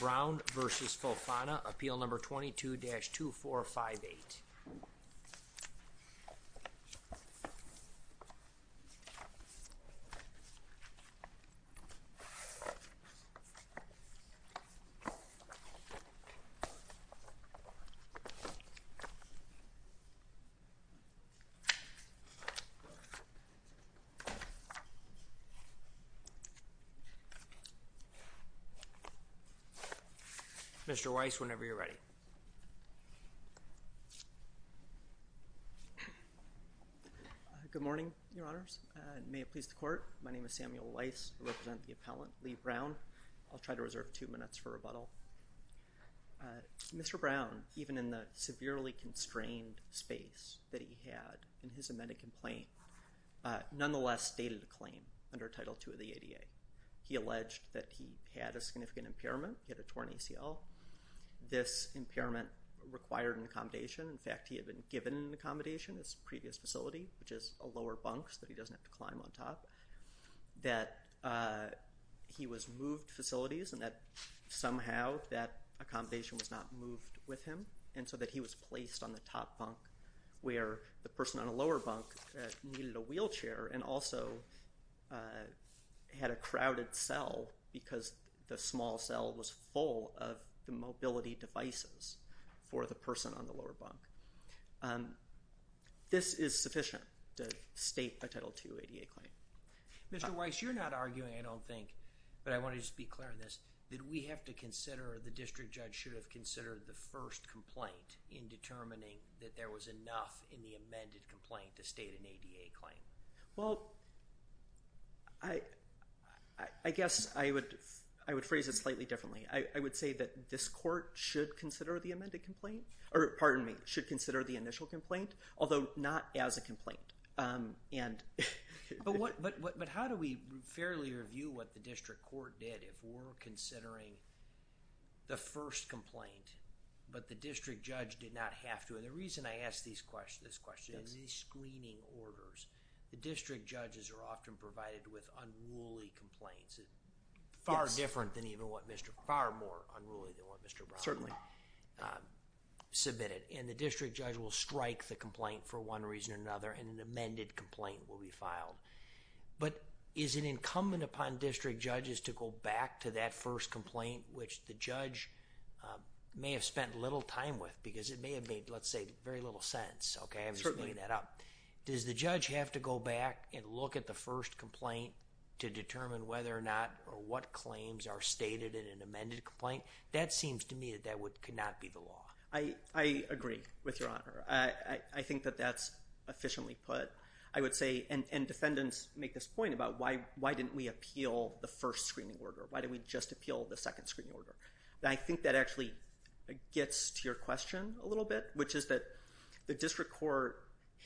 Brown v. Fofana Appeal No. 22-2458 Mr. Weiss, whenever you're ready. Good morning, Your Honors. May it please the Court, my name is Samuel Weiss. I represent the appellant, Lee Brown. I'll try to reserve two minutes for rebuttal. Mr. Brown, even in the severely constrained space that he had in his amended complaint, nonetheless stated a claim under Title II of the ADA. He alleged that he had a significant impairment. He had a torn ACL. This impairment required an accommodation. In fact, he had been given an accommodation at his previous facility, which is a lower bunk so that he doesn't have to climb on top. That he was moved facilities and that somehow that accommodation was not moved with him and so that he was placed on the top bunk where the person on the lower bunk needed a wheelchair and also had a crowded cell because the small cell was full of the mobility devices for the person on the lower bunk. This is sufficient to state a Title II ADA claim. Mr. Weiss, you're not arguing, I don't think, but I want to just be clear on this. Did we have to consider or the district judge should have considered the first complaint in determining that there was enough in the amended complaint to state an ADA claim? Well, I guess I would phrase it slightly differently. I would say that this court should consider the amended complaint, or pardon me, should consider the initial complaint, although not as a complaint. But how do we fairly review what the district court did if we're considering the first complaint, but the district judge did not have to? And the reason I ask this question is these screening orders, the district judges are often provided with unruly complaints. Far different than even what Mr., far more unruly than what Mr. Bromley submitted and the district judge will strike the complaint for one reason or another and an amended complaint will be filed. But is it incumbent upon district judges to go back to that first complaint, which the judge may have spent little time with because it may have made, let's say, very little sense. I'm just bringing that up. Does the judge have to go back and look at the first complaint to determine whether or not or what claims are stated in an amended complaint? That seems to me that that could not be the law. I agree with your honor. I think that that's efficiently put. I would say, and defendants make this point about why didn't we appeal the first screening order? Why did we just appeal the second screening order? And I think that actually gets to your question a little bit, which is that the district court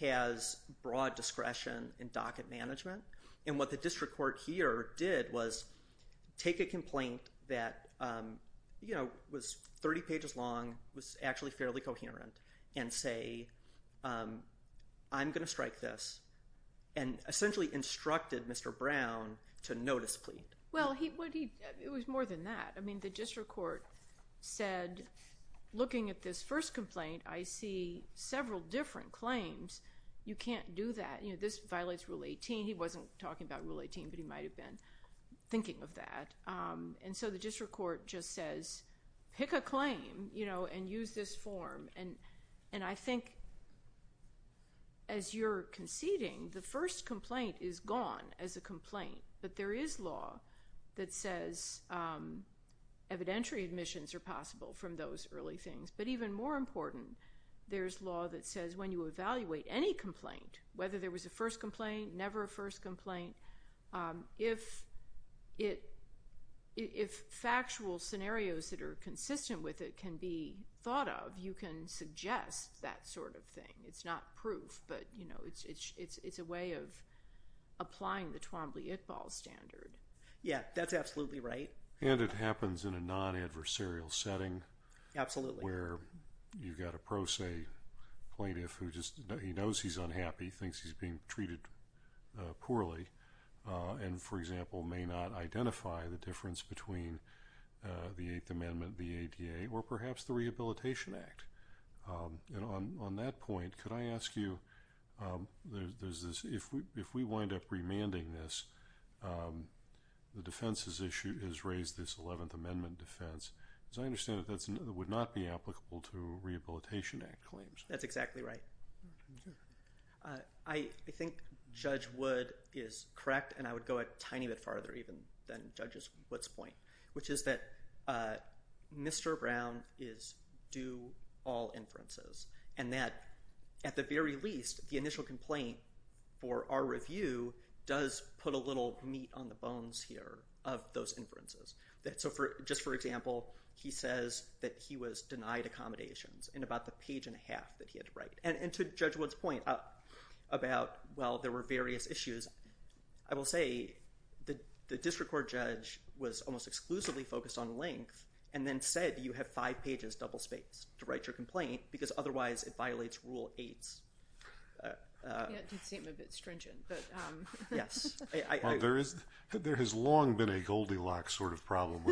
has broad discretion in docket management. And what the district court here did was take a complaint that was 30 pages long, was actually fairly coherent, and say, I'm going to strike this, and essentially instructed Mr. Brown to no displeased. Well, it was more than that. I mean, the district court said, looking at this first complaint, I see several different claims. You can't do that. This violates Rule 18. He wasn't talking about Rule 18, but he might have been thinking of that. And so the district court just says, pick a claim and use this form. And I think, as you're conceding, the first complaint is gone as a complaint. But there is law that says evidentiary admissions are possible from those early things. But even more important, there's law that says when you evaluate any complaint, whether there was a first complaint, never a first complaint, if factual scenarios that are consistent with it can be thought of, you can suggest that sort of thing. It's not proof, but it's a way of applying the Twombly-Iqbal standard. Yeah, that's absolutely right. And it happens in a non-adversarial setting. Where you've got a pro se plaintiff who just knows he's unhappy, thinks he's being treated poorly, and, for example, may not identify the difference between the Eighth Amendment, the ADA, or perhaps the Rehabilitation Act. And on that point, could I ask you, if we wind up remanding this, the defense's issue is raise this Eleventh Amendment defense. As I understand it, that would not be applicable to Rehabilitation Act claims. That's exactly right. I think Judge Wood is correct, and I would go a tiny bit farther even than Judge Wood's point, which is that Mr. Brown is due all inferences. And that, at the very least, the initial complaint for our review does put a little meat on the bones here of those inferences. Just for example, he says that he was denied accommodations in about the page and a half that he had to write. And to Judge Wood's point about, well, there were various issues, I will say the district court judge was almost exclusively focused on length, and then said you have five pages, double spaced, to write your complaint, because otherwise it violates Rule 8. That did seem a bit stringent. Yes. There has long been a Goldilocks sort of problem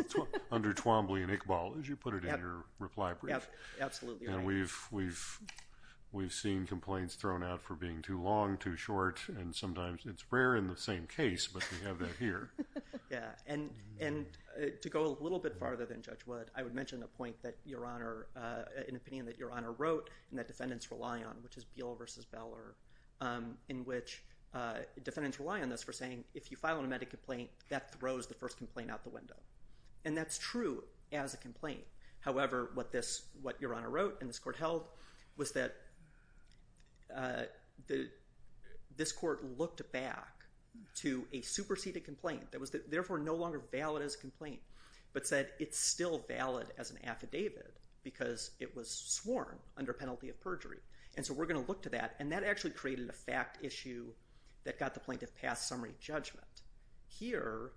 under Twombly and Iqbal, as you put it in your reply brief. Absolutely right. And we've seen complaints thrown out for being too long, too short, and sometimes it's rare in the same case, but we have that here. Yeah. And to go a little bit farther than Judge Wood, I would mention a point that Your Honor, an opinion that Your Honor wrote and that defendants rely on, which is Beal v. Beller, in which defendants rely on this for saying, if you file a nomadic complaint, that throws the first complaint out the window. And that's true as a complaint. However, what Your Honor wrote and this court held was that this court looked back to a superseded complaint that was therefore no longer valid as a complaint, but said it's still valid as an affidavit because it was sworn under penalty of perjury. And so we're going to look to that, and that actually created a fact issue that got the plaintiff past summary judgment. Here,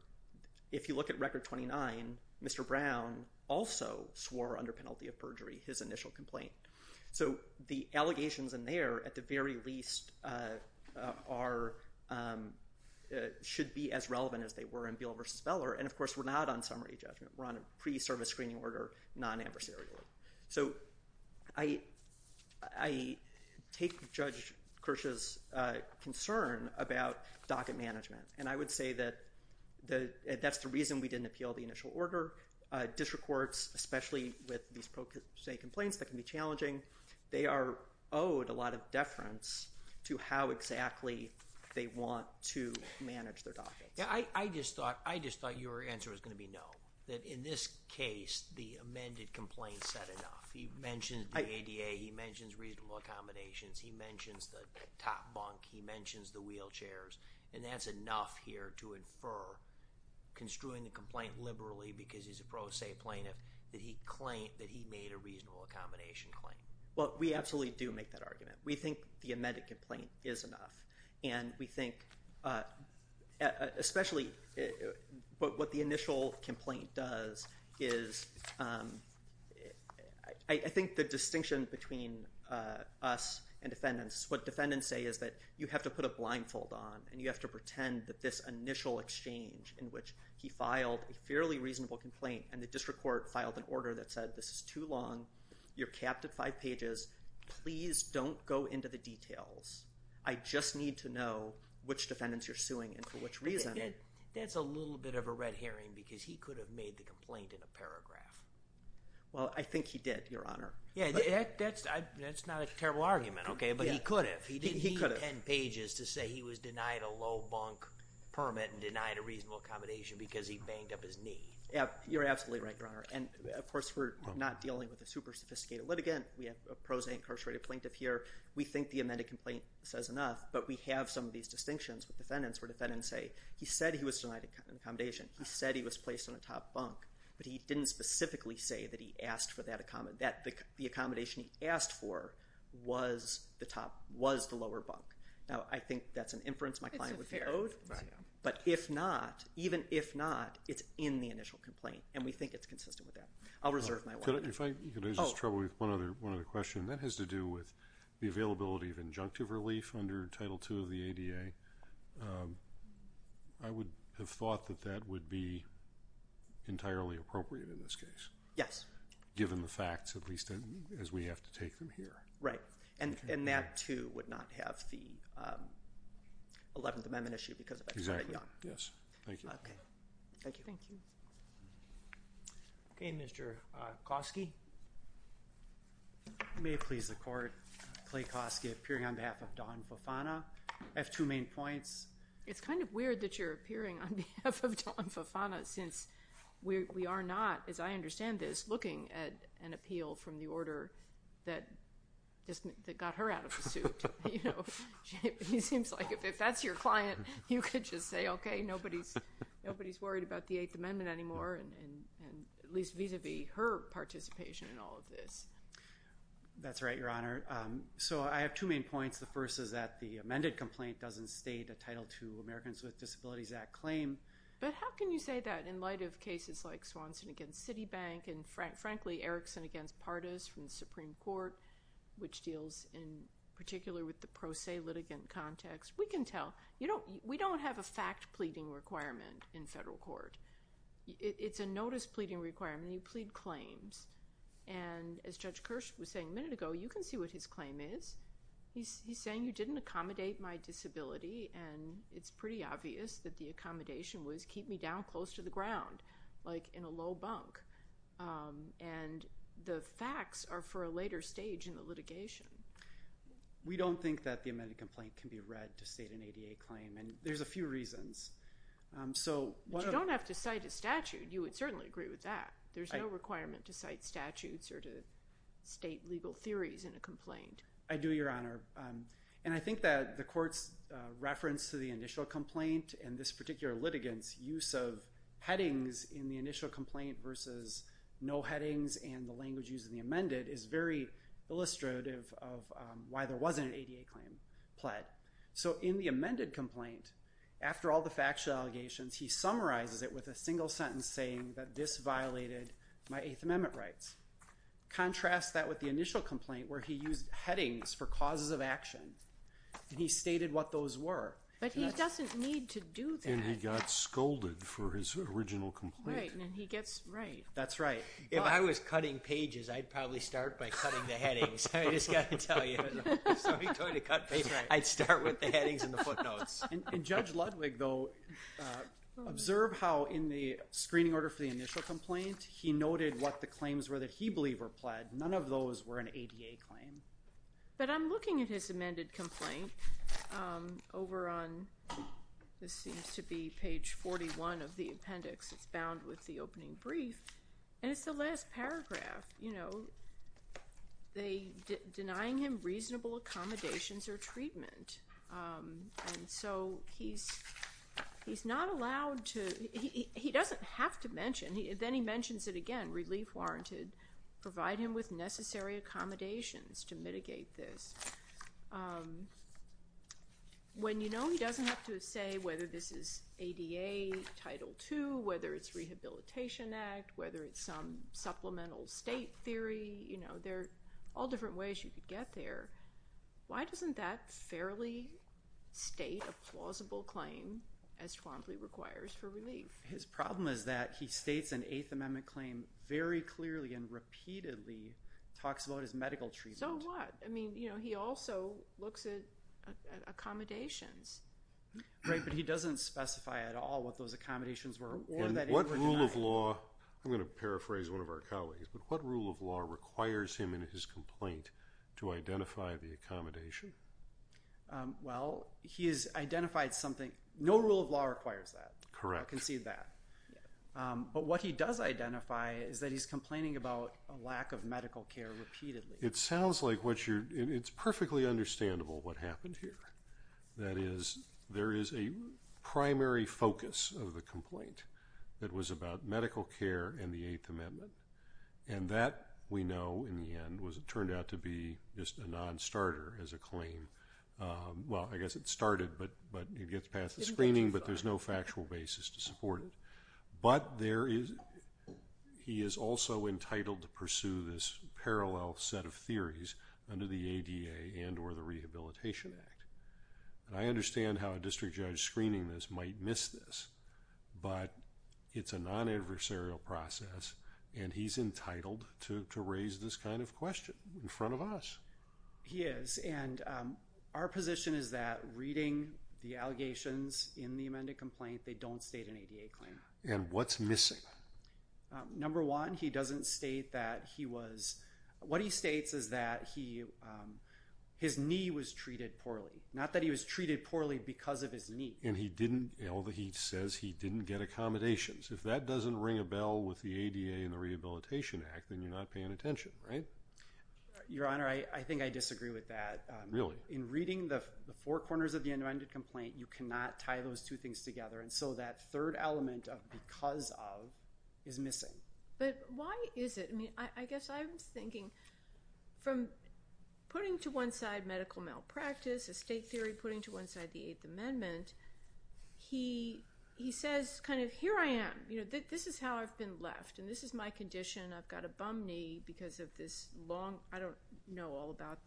if you look at Record 29, Mr. Brown also swore under penalty of perjury his initial complaint. So the allegations in there, at the very least, should be as relevant as they were in Beal v. Beller, and of course we're not on summary judgment. We're on a pre-service screening order, non-adversarial. So I take Judge Kirsch's concern about docket management, and I would say that that's the reason we didn't appeal the initial order. District courts, especially with these pro se complaints that can be challenging, they are owed a lot of deference to how exactly they want to manage their dockets. I just thought your answer was going to be no, that in this case the amended complaint said enough. He mentions the ADA, he mentions reasonable accommodations, he mentions the top bunk, he mentions the wheelchairs, and that's enough here to infer, construing the complaint liberally because he's a pro se plaintiff, that he made a reasonable accommodation claim. Well, we absolutely do make that argument. We think the amended complaint is enough, and we think especially what the initial complaint does is, I think the distinction between us and defendants, what defendants say is that you have to put a blindfold on and you have to pretend that this initial exchange in which he filed a fairly reasonable complaint and the district court filed an order that said this is too long, you're capped at five pages, please don't go into the details. I just need to know which defendants you're suing and for which reason. That's a little bit of a red herring because he could have made the complaint in a paragraph. Well, I think he did, Your Honor. Yeah, that's not a terrible argument, okay, but he could have. He didn't need ten pages to say he was denied a low bunk permit and denied a reasonable accommodation because he banged up his knee. Yeah, you're absolutely right, Your Honor, and of course we're not dealing with a super sophisticated litigant. We have a pro se incarcerated plaintiff here. We think the amended complaint says enough, but we have some of these distinctions with defendants where defendants say he said he was denied an accommodation. He said he was placed on a top bunk, but he didn't specifically say that the accommodation he asked for was the lower bunk. Now, I think that's an inference my client would be owed, but if not, even if not, it's in the initial complaint, and we think it's consistent with that. I'll reserve my word. Could I just trouble you with one other question? That has to do with the availability of injunctive relief under Title II of the ADA. I would have thought that that would be entirely appropriate in this case. Yes. Given the facts, at least as we have to take them here. Right. And that, too, would not have the Eleventh Amendment issue because that's very young. Exactly. Yes. Thank you. Okay. Thank you. Thank you. Okay, Mr. Kosky. May it please the Court, Clay Kosky appearing on behalf of Don Fofana. I have two main points. It's kind of weird that you're appearing on behalf of Don Fofana since we are not, as I understand this, looking at an appeal from the order that got her out of the suit. It seems like if that's your client, you could just say, okay, nobody's worried about the Eighth Amendment anymore, at least vis-à-vis her participation in all of this. That's right, Your Honor. So I have two main points. The first is that the amended complaint doesn't state a Title II Americans with Disabilities Act claim. But how can you say that in light of cases like Swanson against Citibank and, frankly, Erickson against Pardes from the Supreme Court, which deals in particular with the pro se litigant context? We can tell. We don't have a fact pleading requirement in federal court. It's a notice pleading requirement. You plead claims. And as Judge Kirsch was saying a minute ago, you can see what his claim is. He's saying you didn't accommodate my disability, and it's pretty obvious that the accommodation was keep me down close to the ground, like in a low bunk. And the facts are for a later stage in the litigation. We don't think that the amended complaint can be read to state an ADA claim, and there's a few reasons. But you don't have to cite a statute. You would certainly agree with that. There's no requirement to cite statutes or to state legal theories in a complaint. I do, Your Honor. And I think that the court's reference to the initial complaint and this particular litigant's use of headings in the initial complaint versus no headings and the language used in the amended is very illustrative of why there wasn't an ADA claim pled. So in the amended complaint, after all the factual allegations, he summarizes it with a single sentence saying that this violated my Eighth Amendment rights. Contrast that with the initial complaint where he used headings for causes of action, and he stated what those were. But he doesn't need to do that. And he got scolded for his original complaint. Right, and then he gets right. That's right. If I was cutting pages, I'd probably start by cutting the headings. I just got to tell you. So he tried to cut pages. I'd start with the headings and the footnotes. And Judge Ludwig, though, observe how in the screening order for the initial complaint, he noted what the claims were that he believed were pled. None of those were an ADA claim. But I'm looking at his amended complaint over on this seems to be page 41 of the appendix. It's bound with the opening brief. And it's the last paragraph, you know, denying him reasonable accommodations or treatment. And so he's not allowed to, he doesn't have to mention, then he mentions it again, relief warranted, provide him with necessary accommodations to mitigate this. When you know he doesn't have to say whether this is ADA Title II, whether it's Rehabilitation Act, whether it's some supplemental state theory, you know, there are all different ways you could get there. Why doesn't that fairly state a plausible claim as Twombly requires for relief? His problem is that he states an Eighth Amendment claim very clearly and repeatedly, talks about his medical treatment. So what? I mean, you know, he also looks at accommodations. Right, but he doesn't specify at all what those accommodations were or that it was denied. I'm going to paraphrase one of our colleagues, but what rule of law requires him in his complaint to identify the accommodation? Well, he has identified something. No rule of law requires that. Correct. I can see that. But what he does identify is that he's complaining about a lack of medical care repeatedly. It sounds like what you're, it's perfectly understandable what happened here. That is, there is a primary focus of the complaint that was about medical care and the Eighth Amendment. And that, we know, in the end, turned out to be just a non-starter as a claim. Well, I guess it started, but it gets past the screening, but there's no factual basis to support it. But there is, he is also entitled to pursue this parallel set of theories under the ADA and or the Rehabilitation Act. And I understand how a district judge screening this might miss this, but it's a non-adversarial process, and he's entitled to raise this kind of question in front of us. He is, and our position is that reading the allegations in the amended complaint, they don't state an ADA claim. And what's missing? Number one, he doesn't state that he was, what he states is that he, his knee was treated poorly. Not that he was treated poorly because of his knee. And he didn't, although he says he didn't get accommodations. If that doesn't ring a bell with the ADA and the Rehabilitation Act, then you're not paying attention, right? Your Honor, I think I disagree with that. Really? In reading the four corners of the amended complaint, you cannot tie those two things together. And so that third element of because of is missing. But why is it? I mean, I guess I'm thinking from putting to one side medical malpractice, estate theory, putting to one side the Eighth Amendment, he says kind of here I am, you know, this is how I've been left, and this is my condition. I've got a bum knee because of this long, I don't know all about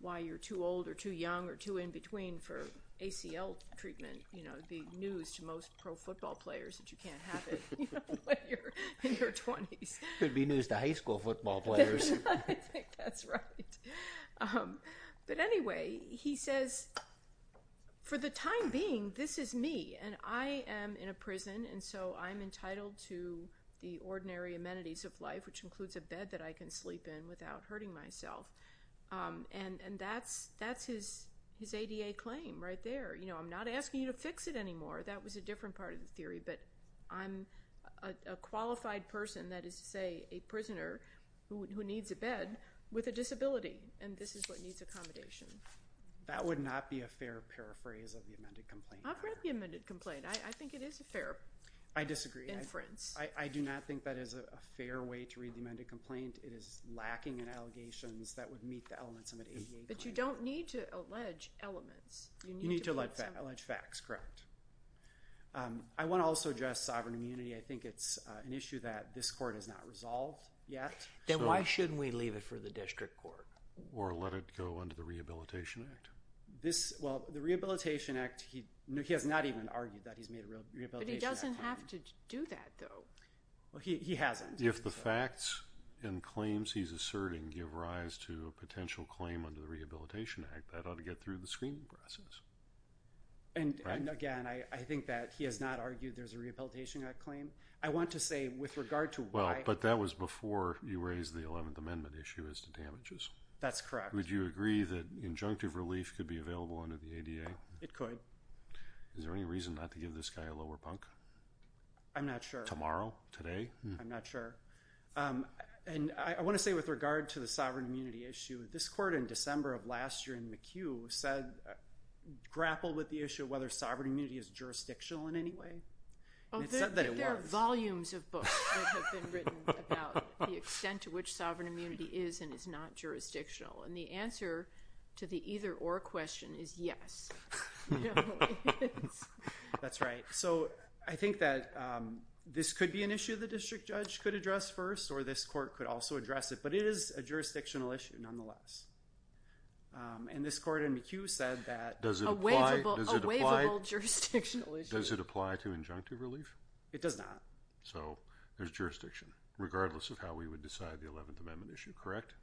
why you're too old or too young or too in between for ACL treatment. You know, it would be news to most pro football players that you can't have it when you're in your 20s. It would be news to high school football players. I think that's right. But anyway, he says for the time being, this is me. And I am in a prison, and so I'm entitled to the ordinary amenities. Life, which includes a bed that I can sleep in without hurting myself. And that's his ADA claim right there. You know, I'm not asking you to fix it anymore. That was a different part of the theory. But I'm a qualified person, that is to say a prisoner who needs a bed with a disability, and this is what needs accommodation. That would not be a fair paraphrase of the amended complaint. I've read the amended complaint. I think it is a fair inference. I disagree. I do not think that is a fair way to read the amended complaint. It is lacking in allegations that would meet the elements of an ADA claim. But you don't need to allege elements. You need to allege facts, correct. I want to also address sovereign immunity. I think it's an issue that this court has not resolved yet. Then why shouldn't we leave it for the district court? Or let it go under the Rehabilitation Act? Well, the Rehabilitation Act, he has not even argued that he's made a Rehabilitation Act claim. But he doesn't have to do that, though. He hasn't. If the facts and claims he's asserting give rise to a potential claim under the Rehabilitation Act, that ought to get through the screening process. And, again, I think that he has not argued there's a Rehabilitation Act claim. I want to say with regard to why— Well, but that was before you raised the 11th Amendment issue as to damages. That's correct. Would you agree that injunctive relief could be available under the ADA? It could. Is there any reason not to give this guy a lower bunk? I'm not sure. Tomorrow? Today? I'm not sure. And I want to say with regard to the sovereign immunity issue, this court in December of last year in McHugh grappled with the issue of whether sovereign immunity is jurisdictional in any way. Oh, there are volumes of books that have been written about the extent to which sovereign immunity is and is not jurisdictional. And the answer to the either-or question is yes. That's right. So I think that this could be an issue the district judge could address first, or this court could also address it. But it is a jurisdictional issue nonetheless. And this court in McHugh said that— A waivable jurisdictional issue. Does it apply to injunctive relief? It does not. So there's jurisdiction, regardless of how we would decide the 11th Amendment issue, correct?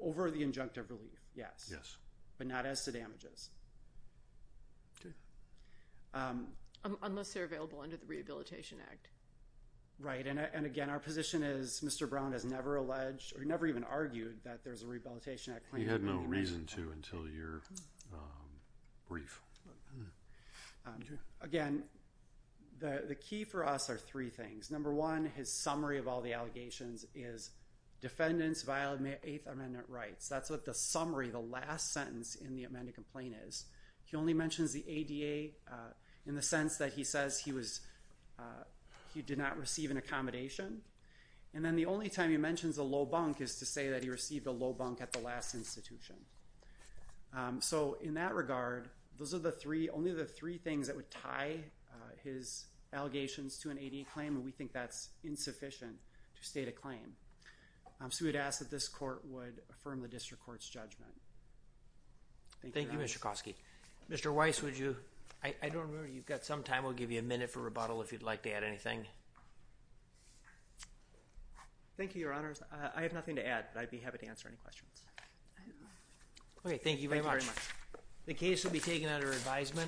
Over the injunctive relief, yes. Yes. But not as to damages. Okay. Unless they're available under the Rehabilitation Act. Right. And, again, our position is Mr. Brown has never alleged or never even argued that there's a Rehabilitation Act claim. He had no reason to until your brief. Again, the key for us are three things. Number one, his summary of all the allegations is defendants violate Eighth Amendment rights. That's what the summary, the last sentence in the amended complaint is. He only mentions the ADA in the sense that he says he was—he did not receive an accommodation. And then the only time he mentions a low bunk is to say that he received a low bunk at the last institution. So in that regard, those are the three—only the three things that would tie his allegations to an ADA claim, and we think that's insufficient to state a claim. So we'd ask that this court would affirm the district court's judgment. Thank you, Your Honors. Thank you, Mr. Koski. Mr. Weiss, would you—I don't remember. You've got some time. We'll give you a minute for rebuttal if you'd like to add anything. Thank you, Your Honors. I have nothing to add, but I'd be happy to answer any questions. Okay. Thank you very much. Thank you very much. The case will be taken under advisement.